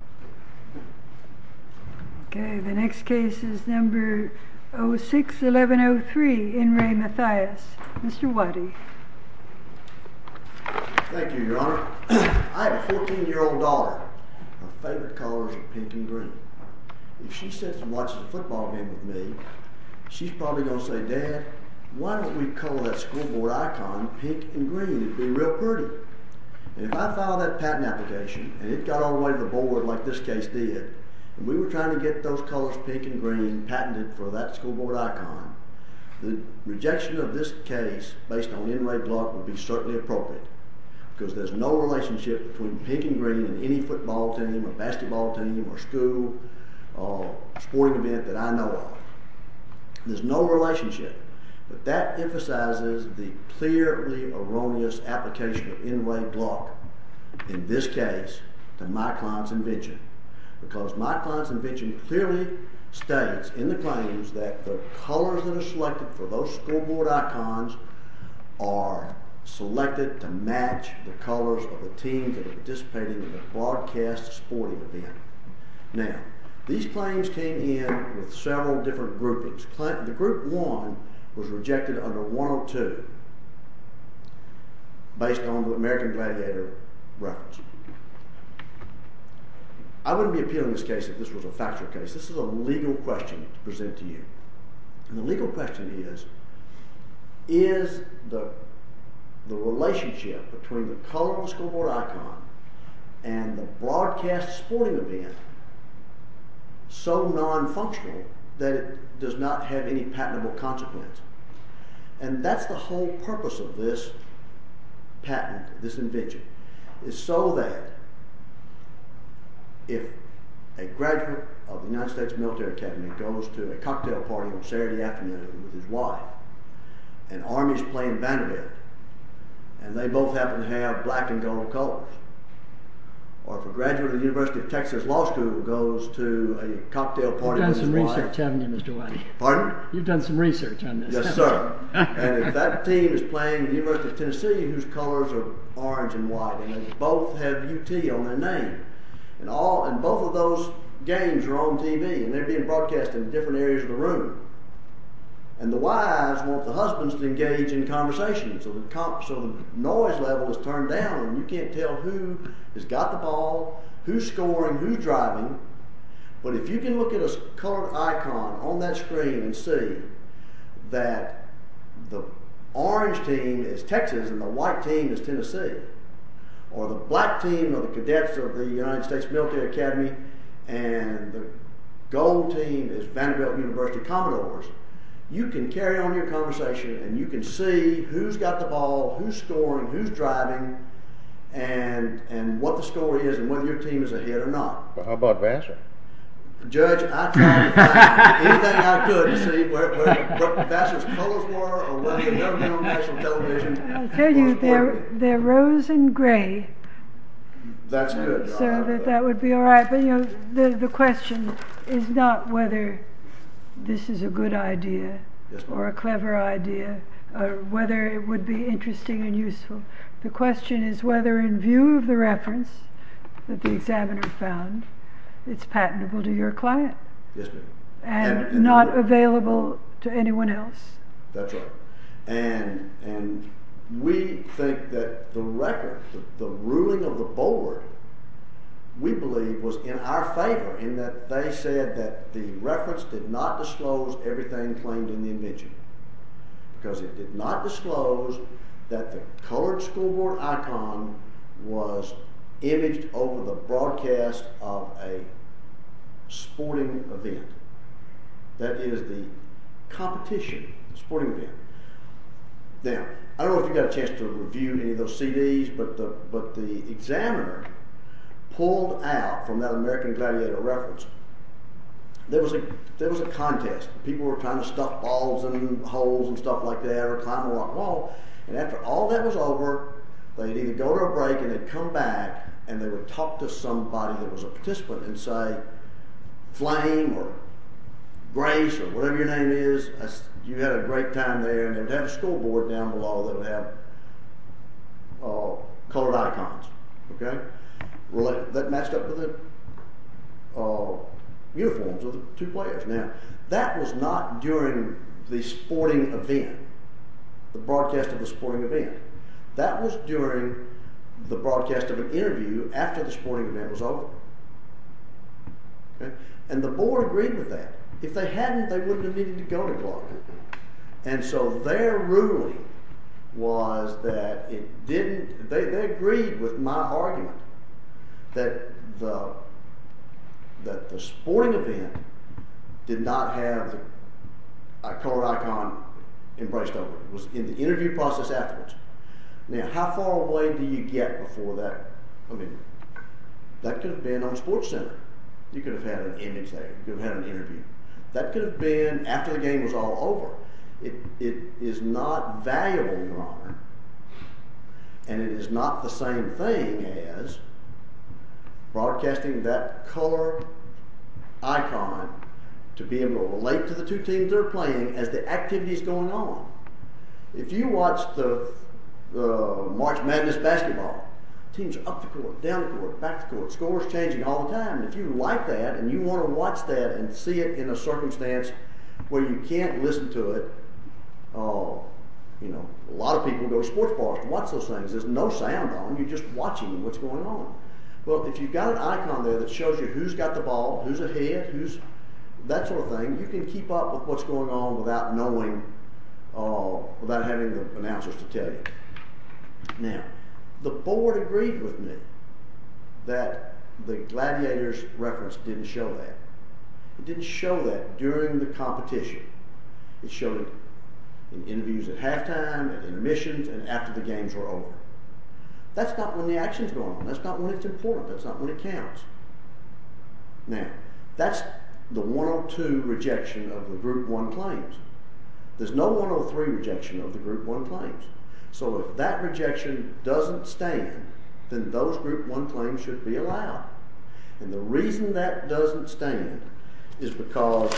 I have a 14-year-old daughter. Her favorite color is pink and green. If she sits and watches a football game with me, she's probably going to say, Dad, why don't we color that school board icon pink and green? It would be real pretty. And if I filed that patent application and it got all the way to the board like this case did, and we were trying to get those colors pink and green patented for that school board icon, the rejection of this case based on NRA Gluck would be certainly appropriate because there's no relationship between pink and green in any football team or basketball team or school or sporting event that I know of. There's no relationship. But that emphasizes the clearly erroneous application of NRA Gluck in this case to my client's invention because my client's invention clearly states in the claims that the colors that are selected for those school board icons are selected to match the colors of the teams that are participating in the broadcast sporting event. Now these claims came in with several different groupings. The group one was rejected under 102 based on the American Gladiator records. I wouldn't be appealing this case if this was a factual case. This is a legal question to present to you. And the legal question is, is the relationship between the color of the school board icon and the broadcast sporting event so non-functional that it does not have any patentable consequence? And that's the whole purpose of this patent, this invention, is so that if a graduate of the United States Military Academy goes to a cocktail party on Saturday afternoon with his wife and Army's playing Vanderbilt and they both happen to have black and gold colors, or if a graduate of the University of Texas Law School goes to a cocktail party... You've done some research, haven't you Mr. Whitey? Pardon? You've done some research on this. Yes sir. And if that team is playing the University of Tennessee whose colors are orange and white and they both have UT on their name and both of those games are on TV and they're being broadcast in different areas of the room and the wives want the husbands to engage in conversation so the noise level is turned down and you can't tell who has got the ball, who's colored icon on that screen and see that the orange team is Texas and the white team is Tennessee or the black team of the cadets of the United States Military Academy and the gold team is Vanderbilt University Commodores. You can carry on your conversation and you can see who's got the ball, who's scoring, who's driving and what the score is and whether your team is ahead or not. How about Vassar? Judge, I tried to find anything I could to see what Vassar's colors were or whether they're going to be on national television. I'll tell you they're rose and gray. That's good. So that would be all right but you know the question is not whether this is a good idea or a clever idea or whether it would be interesting and useful. The question is whether in view of the reference that the examiner found it's patentable to your client and not available to anyone else. That's right and we think that the record the ruling of the board we believe was in our favor in that they said that the reference did not disclose everything claimed in the invention because it did not disclose that the colored school board icon was imaged over the broadcast of a sporting event. That is the competition sporting event. Now I don't know if you got a chance to review any of those cds but the examiner pulled out from that American Gladiator reference there was a contest. People were trying to stuff balls in holes and stuff like that or climb a rock wall and after all that was over they'd either go to a break and they'd come back and they would talk to somebody that was a participant and say flame or grace or whatever your name is you had a great time there and they'd have a school board down below that would have colored icons okay that matched up with the uniforms of the two players. That was not during the sporting event the broadcast of the sporting event that was during the broadcast of an interview after the sporting event was over and the board agreed with that. If they hadn't they wouldn't have needed to go to Clark and so their ruling was that it didn't they agreed with my argument that the that the sporting event did not have a colored icon embraced over it was in the interview process afterwards. Now how far away do you get before that I mean that could have been on sports center you could have had an image there you've had an interview that could have been after the game was all over. It is not valuable your honor and it is not the same thing as broadcasting that color icon to be able to relate to the two teams they're playing as the activities going on. If you watch the March Madness basketball teams up the court down the court back the court scores changing all the time if you like that and you want to watch that and see it in a where you can't listen to it oh you know a lot of people go to sports bars watch those things there's no sound on you're just watching what's going on well if you've got an icon there that shows you who's got the ball who's ahead who's that sort of thing you can keep up with what's going on without knowing oh without having the announcers to tell you. Now the board agreed with me that the gladiators reference didn't show that it didn't show that during the competition it showed in interviews at halftime and admissions and after the games were over that's not when the action's going on that's not when it's important that's not when it counts. Now that's the 102 rejection of the group one claims there's no 103 rejection of the group one claims so if that rejection doesn't stand then those group one claims should be allowed and the reason that doesn't stand is because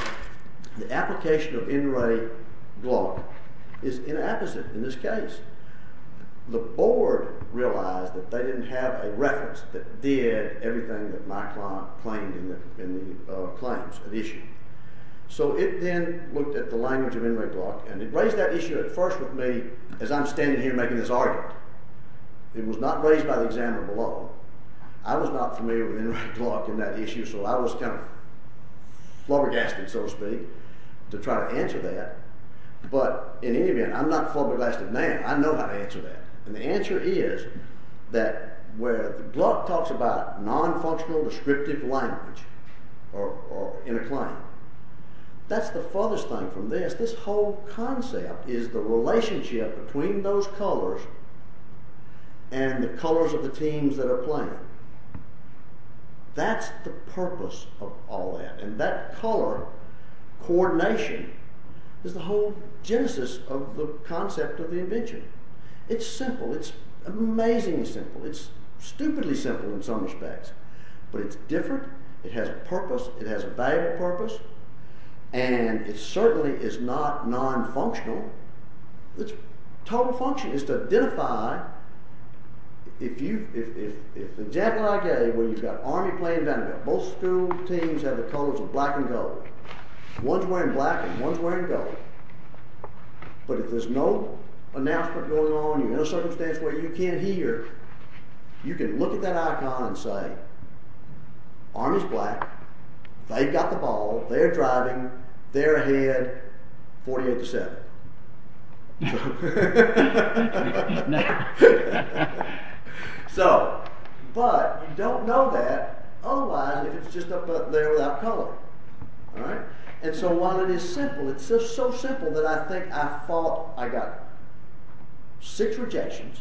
the application of in re block is inapposite in this case the board realized that they didn't have a reference that did everything that my client claimed in the in the claims of issue so it then looked at the language of in re block and it raised that issue at first with me as I'm standing here making this it was not raised by the examiner below I was not familiar with in re block in that issue so I was kind of flabbergasted so to speak to try to answer that but in any event I'm not flabbergasted now I know how to answer that and the answer is that where the block talks about non-functional descriptive language or in a claim that's the farthest thing from this this whole concept is the relationship between those colors and the colors of the teams that are playing that's the purpose of all that and that color coordination is the whole genesis of the concept of the invention it's simple it's amazingly simple it's stupidly simple in some respects but it's different it has a purpose it has a valuable purpose and it certainly is not non-functional the total function is to identify if you if the jacket I gave where you've got army playing down there both school teams have the colors of black and gold one's wearing black and one's wearing gold but if there's no announcement going on you're in a circumstance where you can't hear you can look at that icon and say army's black they've got the ball they're driving they're ahead 48 to 7. So but you don't know that otherwise if it's just up there without color all right and so while it is simple it's just so simple that I think I thought I got six rejections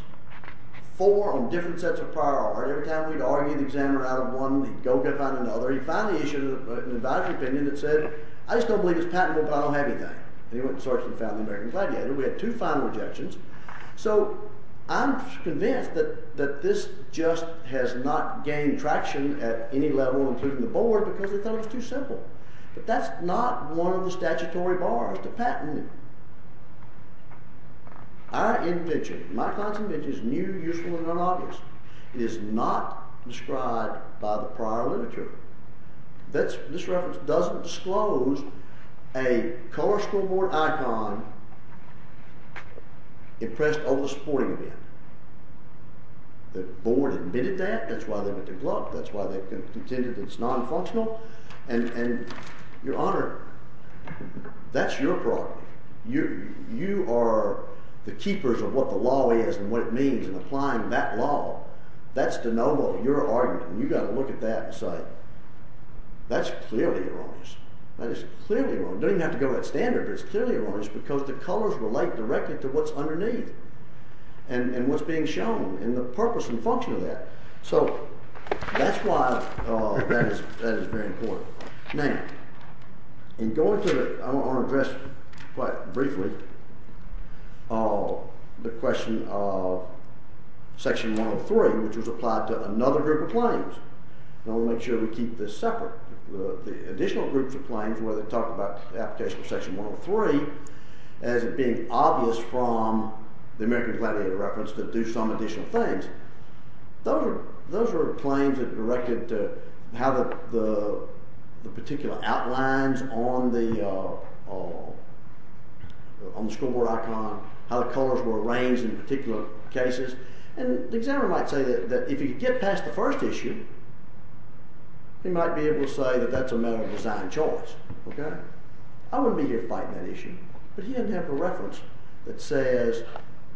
four on different sets of priority every time we'd argue the examiner out of one he'd go find another he'd find the issue an advisory opinion that said I just don't believe it's patentable but I don't have anything and he went and searched and found the American Gladiator we had two final objections so I'm convinced that that this just has not gained traction at any level including the board because they thought it was too simple but that's not one of the statutory bars to patent it. Our invention, my invention is new useful and unobvious it is not described by the prior literature that's this reference doesn't disclose a color scoreboard icon impressed over the sporting event. The board admitted that that's why they put their glove that's why they contended it's non-functional and your honor that's your problem you you are the keepers of what the law is and what it means and applying that law that's de novo your argument you got to look at that and say that's clearly erroneous that is clearly wrong don't even have to go to that standard but it's clearly erroneous because the colors relate directly to what's that's why that is that is very important. Now in going to the I want to address quite briefly the question of section 103 which was applied to another group of claims and I want to make sure we keep this separate the additional groups of claims where they talk about the application of section 103 as it being obvious from the American Gladiator reference to do some additional things those are those were claims that directed to how the the particular outlines on the on the scoreboard icon how the colors were arranged in particular cases and the examiner might say that if you get past the first issue he might be able to say that that's a matter of design choice okay I wouldn't be here fighting but he didn't have a reference that says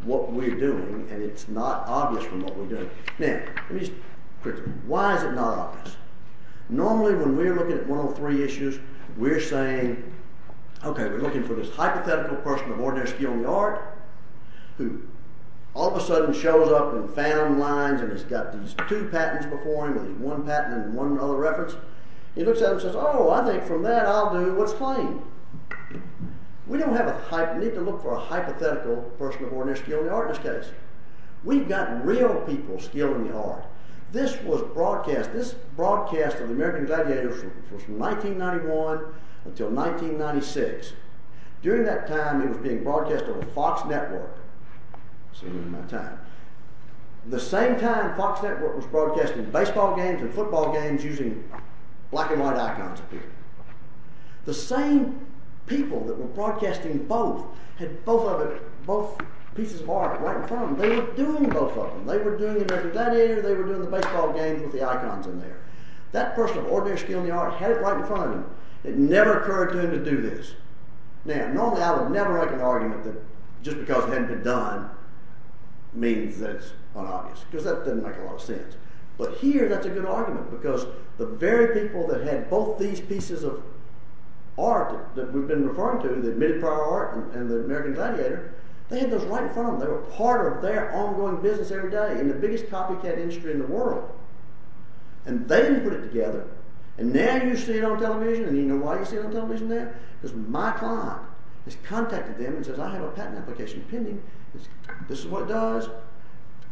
what we're doing and it's not obvious from what we're doing now let me just quickly why is it not obvious normally when we're looking at 103 issues we're saying okay we're looking for this hypothetical person of ordinary skill in the art who all of a sudden shows up and found lines and has got these two patents before him with one patent and one other reference he looks at and says oh I think from that I'll do what's claimed we don't have a hype we need to look for a hypothetical person of ordinary skill in the artist's case we've got real people skill in the art this was broadcast this broadcast of the American Gladiator from 1991 until 1996 during that time it was being broadcast over Fox Network assuming my time the same time Fox Network was broadcasting baseball games and football games black and white icons appeared the same people that were broadcasting both had both of it both pieces of art right in front of them they were doing both of them they were doing the American Gladiator they were doing the baseball games with the icons in there that person of ordinary skill in the art had it right in front of him it never occurred to him to do this now normally I would never make an argument that just because it hadn't been done means that's unobvious because that doesn't make a lot of sense but here that's a good argument because the very people that had both these pieces of art that we've been referring to the admitted prior art and the American Gladiator they had those right in front of them they were part of their ongoing business every day in the biggest copycat industry in the world and they put it together and now you see it on television and you know why you see it on television there because my client has contacted them and says I have a patent application pending this is what it does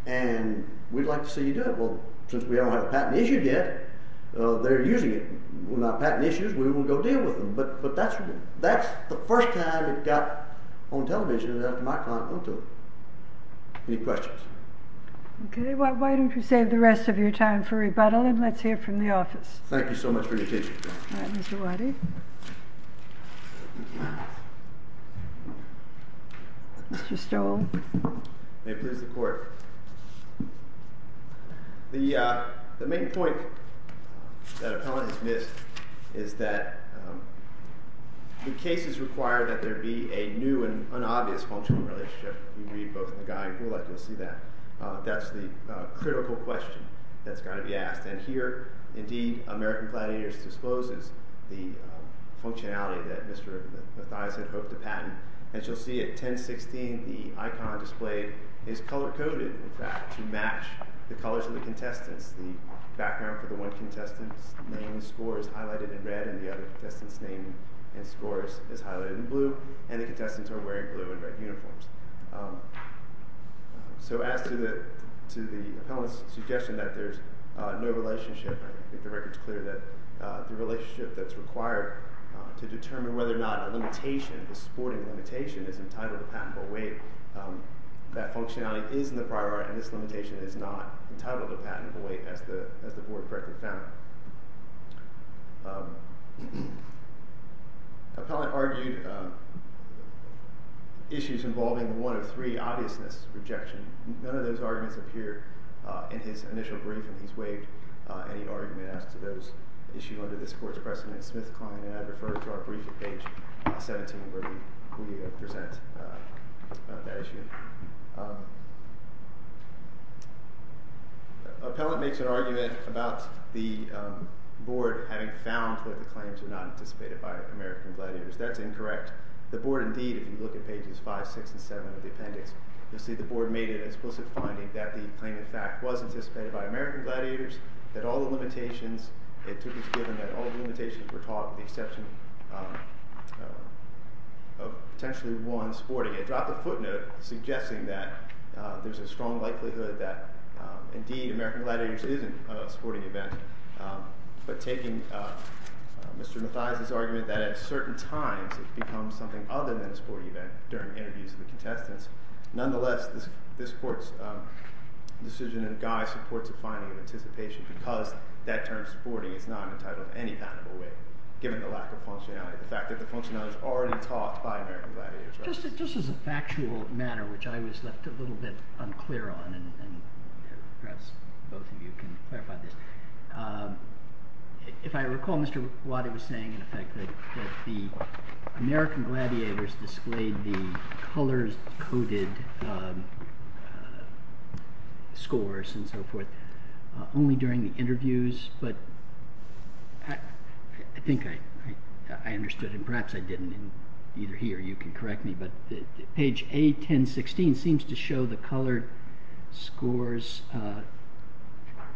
and we'd like to see you do it well since we don't have a patent issued yet uh they're using it we're not patent issues we won't go deal with them but but that's that's the first time it got on television that my client went to it any questions okay why don't we save the rest of your time for rebuttal and let's hear from the office thank you so much for it the uh the main point that appellant has missed is that the cases require that there be a new and unobvious functional relationship we read both the guy and Gulak you'll see that that's the critical question that's got to be asked and here indeed American Gladiators discloses the functionality that Mr. Mathias had hoped to patent as you'll see at 10 16 the icon displayed is color-coded in fact to match the colors of the contestants the background for the one contestant's name score is highlighted in red and the other contestants name and scores is highlighted in blue and the contestants are wearing blue and red uniforms so as to the to the appellant's suggestion that there's no relationship I think the record's clear that uh the relationship that's required to determine whether or not a limitation the sporting limitation is entitled to patentable weight um that functionality is in the priority and this limitation is not entitled to patentable weight as the as the board correctly found appellant argued um issues involving one of three obviousness rejection none of those arguments appear uh in his initial briefing he's waived uh any argument as to those issue under this client and I refer to our briefing page 17 where we present that issue appellant makes an argument about the board having found that the claims are not anticipated by American Gladiators that's incorrect the board indeed if you look at pages five six and seven of the appendix you'll see the board made an explicit finding that the claim in fact was anticipated by the exception of potentially one sporting it dropped the footnote suggesting that there's a strong likelihood that indeed American Gladiators isn't a sporting event but taking Mr. Mathias's argument that at certain times it becomes something other than a sporting event during interviews of the contestants nonetheless this this court's decision and guy supports a because that term sporting is not entitled any patentable weight given the lack of functionality the fact that the functionality is already taught by American Gladiators just just as a factual manner which I was left a little bit unclear on and perhaps both of you can clarify this if I recall Mr. Wadi was saying in effect that that the American Gladiators displayed the colors coded scores and so forth only during the interviews but I think I I understood and perhaps I didn't and either he or you can correct me but the page a 10 16 seems to show the colored scores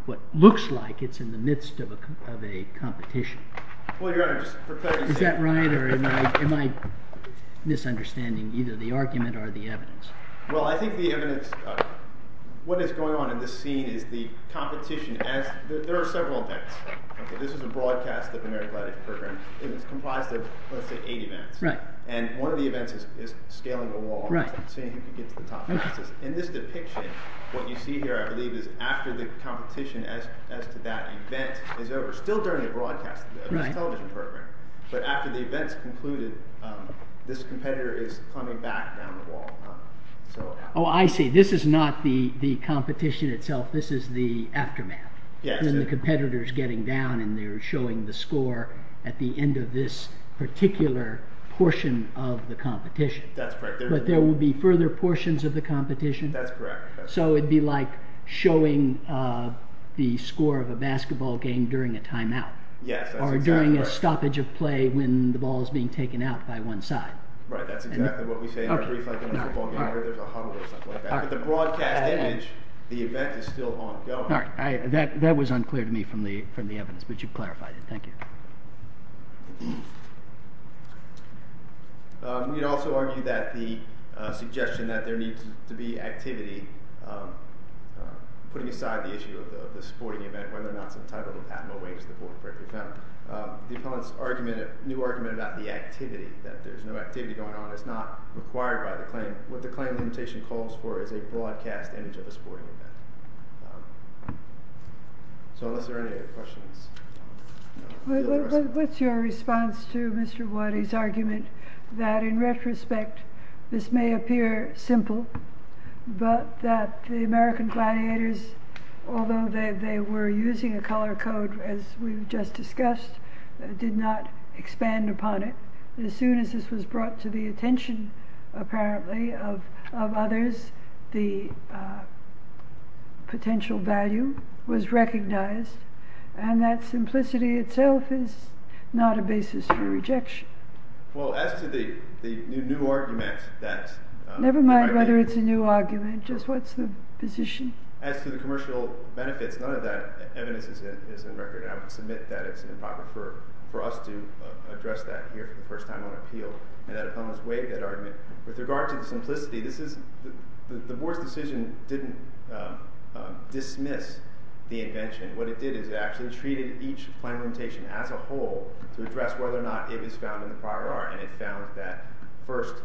what looks like it's in the midst of a of a competition is that right or am I misunderstanding either the argument or the evidence well I think the evidence what is going on in this scene is the competition as there are several events okay this is a broadcast of American Gladiator program and it's comprised of let's say eight events right and one of the events is is scaling the wall right saying he could get to the top fastest in this depiction what you see here I believe is after the competition as as to that event is over still during the broadcast television program but after the events concluded this competitor is coming back down the wall so oh I see this is not the the competition itself this is the aftermath yes and the competitors getting down and they're showing the score at the end of this particular portion of the competition that's right but there will be further portions of the competition that's so it'd be like showing uh the score of a basketball game during a timeout yes or during a stoppage of play when the ball is being taken out by one side right that's exactly what we say in a brief like there's a huddle or something like that but the broadcast image the event is still ongoing all right I that that was unclear to me from the from the evidence but you've clarified it thank you um we'd also argue that the uh suggestion that there needs to be activity um putting aside the issue of the sporting event whether or not some type of a patent awaits the court break we found um the opponent's argument a new argument about the activity that there's no activity going on it's not required by the claim what the claim limitation calls for is a broadcast image of a sporting event so unless there are any other questions what's your question response to Mr. Waddy's argument that in retrospect this may appear simple but that the American Gladiators although they were using a color code as we've just discussed did not expand upon it as soon as this was brought to the attention apparently of of others the uh potential value was recognized and that simplicity itself is not a basis for rejection well as to the the new argument that never mind whether it's a new argument just what's the position as to the commercial benefits none of that evidence is in record and I would submit that it's an improper for for us to address that here for the first time on appeal and that the board's decision didn't dismiss the invention what it did is it actually treated each claim limitation as a whole to address whether or not it was found in the prior art and it found that first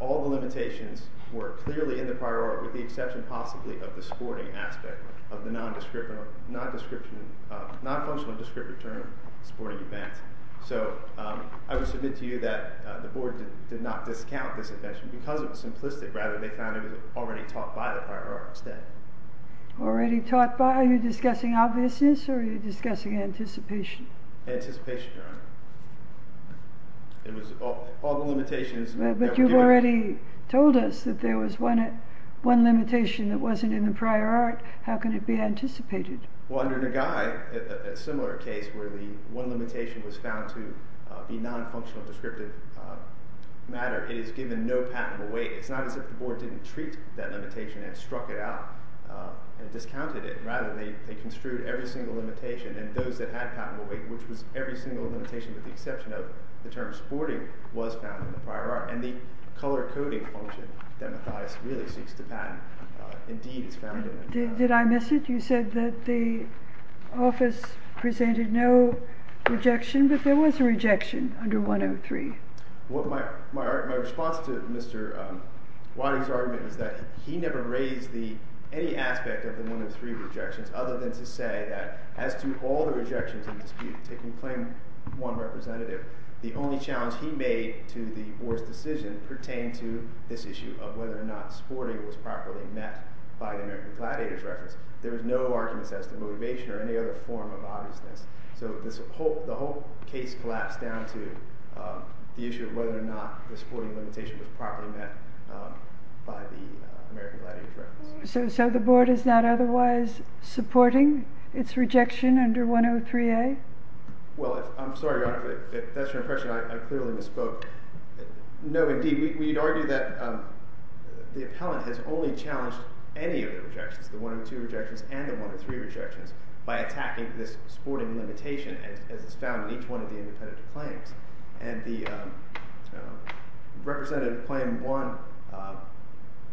all the limitations were clearly in the prior art with the exception possibly of the sporting aspect of the non-descript or non-description uh non-functional descriptive term sporting event so I would submit to you that the board did not discount this invention because it was simplistic rather they found it was already taught by the prior art instead already taught by are you discussing obviousness or are you discussing anticipation anticipation it was all the limitations but you've already told us that there was one one limitation that wasn't in the prior art how can it be anticipated well under the guy a similar case where the one it's not as if the board didn't treat that limitation and struck it out and discounted it rather they they construed every single limitation and those that had patentable weight which was every single limitation with the exception of the term sporting was found in the prior art and the color coding function that matthias really seeks to patent indeed is found in it did i miss it you said that the office presented no rejection but there was a rejection under 103 what my my response to mr um wadi's argument is that he never raised the any aspect of the 103 rejections other than to say that as to all the rejections in dispute taking claim one representative the only challenge he made to the board's decision pertained to this issue of whether or not sporting was properly met by the american gladiators reference there was no arguments as to motivation or any other form of obviousness so this whole the whole case collapsed down to the issue of whether or not the sporting limitation was properly met by the american gladiator reference so so the board is not otherwise supporting its rejection under 103a well i'm sorry your honor if that's your impression i clearly misspoke no indeed we'd argue that the appellant has only challenged any of the rejections the 102 rejections and the 103 rejections by attacking this sporting limitation as it's found in each one of the independent claims and the representative claim one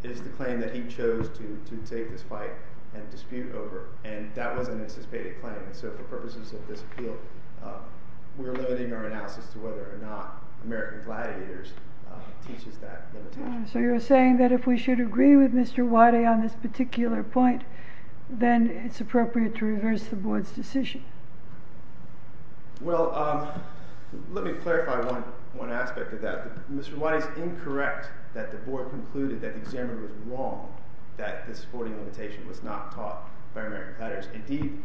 is the claim that he chose to to take this fight and dispute over and that was an anticipated claim so for purposes of this appeal we're limiting our analysis to whether or not american gladiators teaches that so you're saying that if we should agree with mr wadi on this particular point then it's appropriate to reverse the board's decision well um let me clarify one one aspect of that mr wadi is incorrect that the board concluded that the examiner was wrong that the sporting limitation was not taught by american gladiators indeed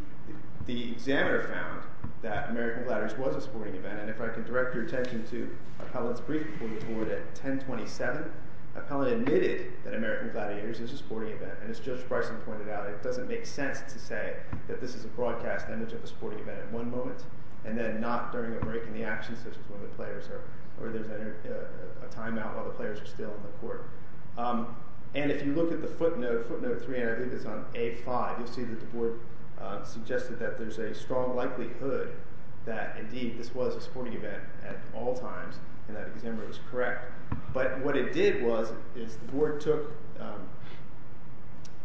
the examiner found that american gladiators was a sporting event and if i can direct your attention to appellant's brief before the board at 10 27 appellant admitted that american gladiators is a sporting event and as judge bryson pointed out it doesn't make sense to say that this is a broadcast image of a sporting event at one moment and then not during a break in the action such as when the players are or there's a timeout while the players are still on the court and if you look at the footnote footnote 3 and i think it's on a5 you'll see that the board suggested that there's a strong likelihood that indeed this was a sporting event at all times and that examiner was correct but what it did was is the board took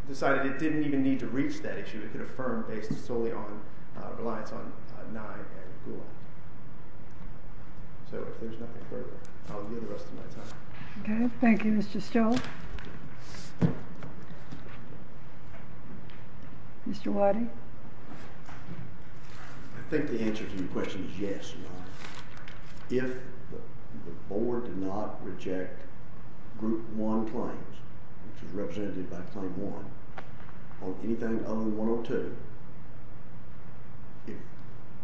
decided it didn't even need to reach that issue it could affirm based solely on uh reliance on nine and gulag so if there's nothing further i'll give the rest of my time okay thank you mr still mr wadi i think the answer to your question is yes if the board did not reject group one claims which is represented by claim one on anything other than 102 if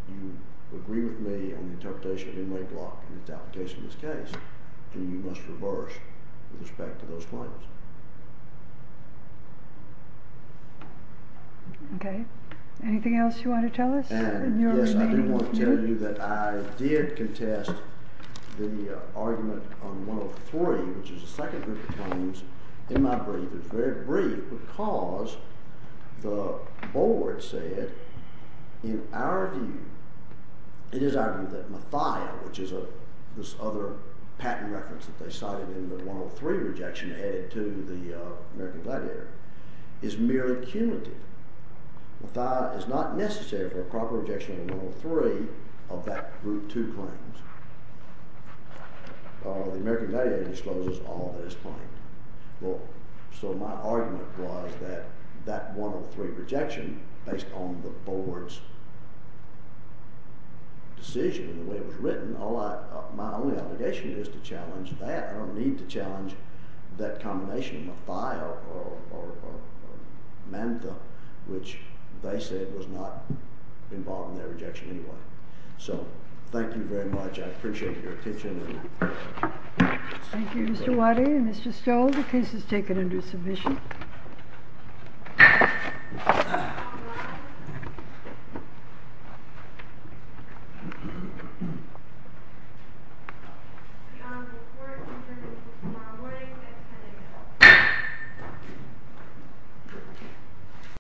you agree with me on the interpretation of inlay block in this application in this case then you must reverse with respect to those claims okay anything else you want to tell us and yes i do want to tell you that i did contest the argument on 103 which is the second group of claims in my brief it's very brief because the board said in our view it is argued that mathia which is a this other patent reference that they cited in the 103 rejection headed to the uh american gladiator is merely cumulative mathia is not necessary for a proper rejection of 103 of that group two claims uh the american gladiator discloses all this point well so my argument was that that 103 rejection based on the board's decision the way it was written all i my only obligation is to challenge that i don't need to challenge that combination of a file or or mantha which they said was not involved in that rejection anyway so thank you very much i appreciate your attention thank you mr wadi and mr stowell the case is taken under submission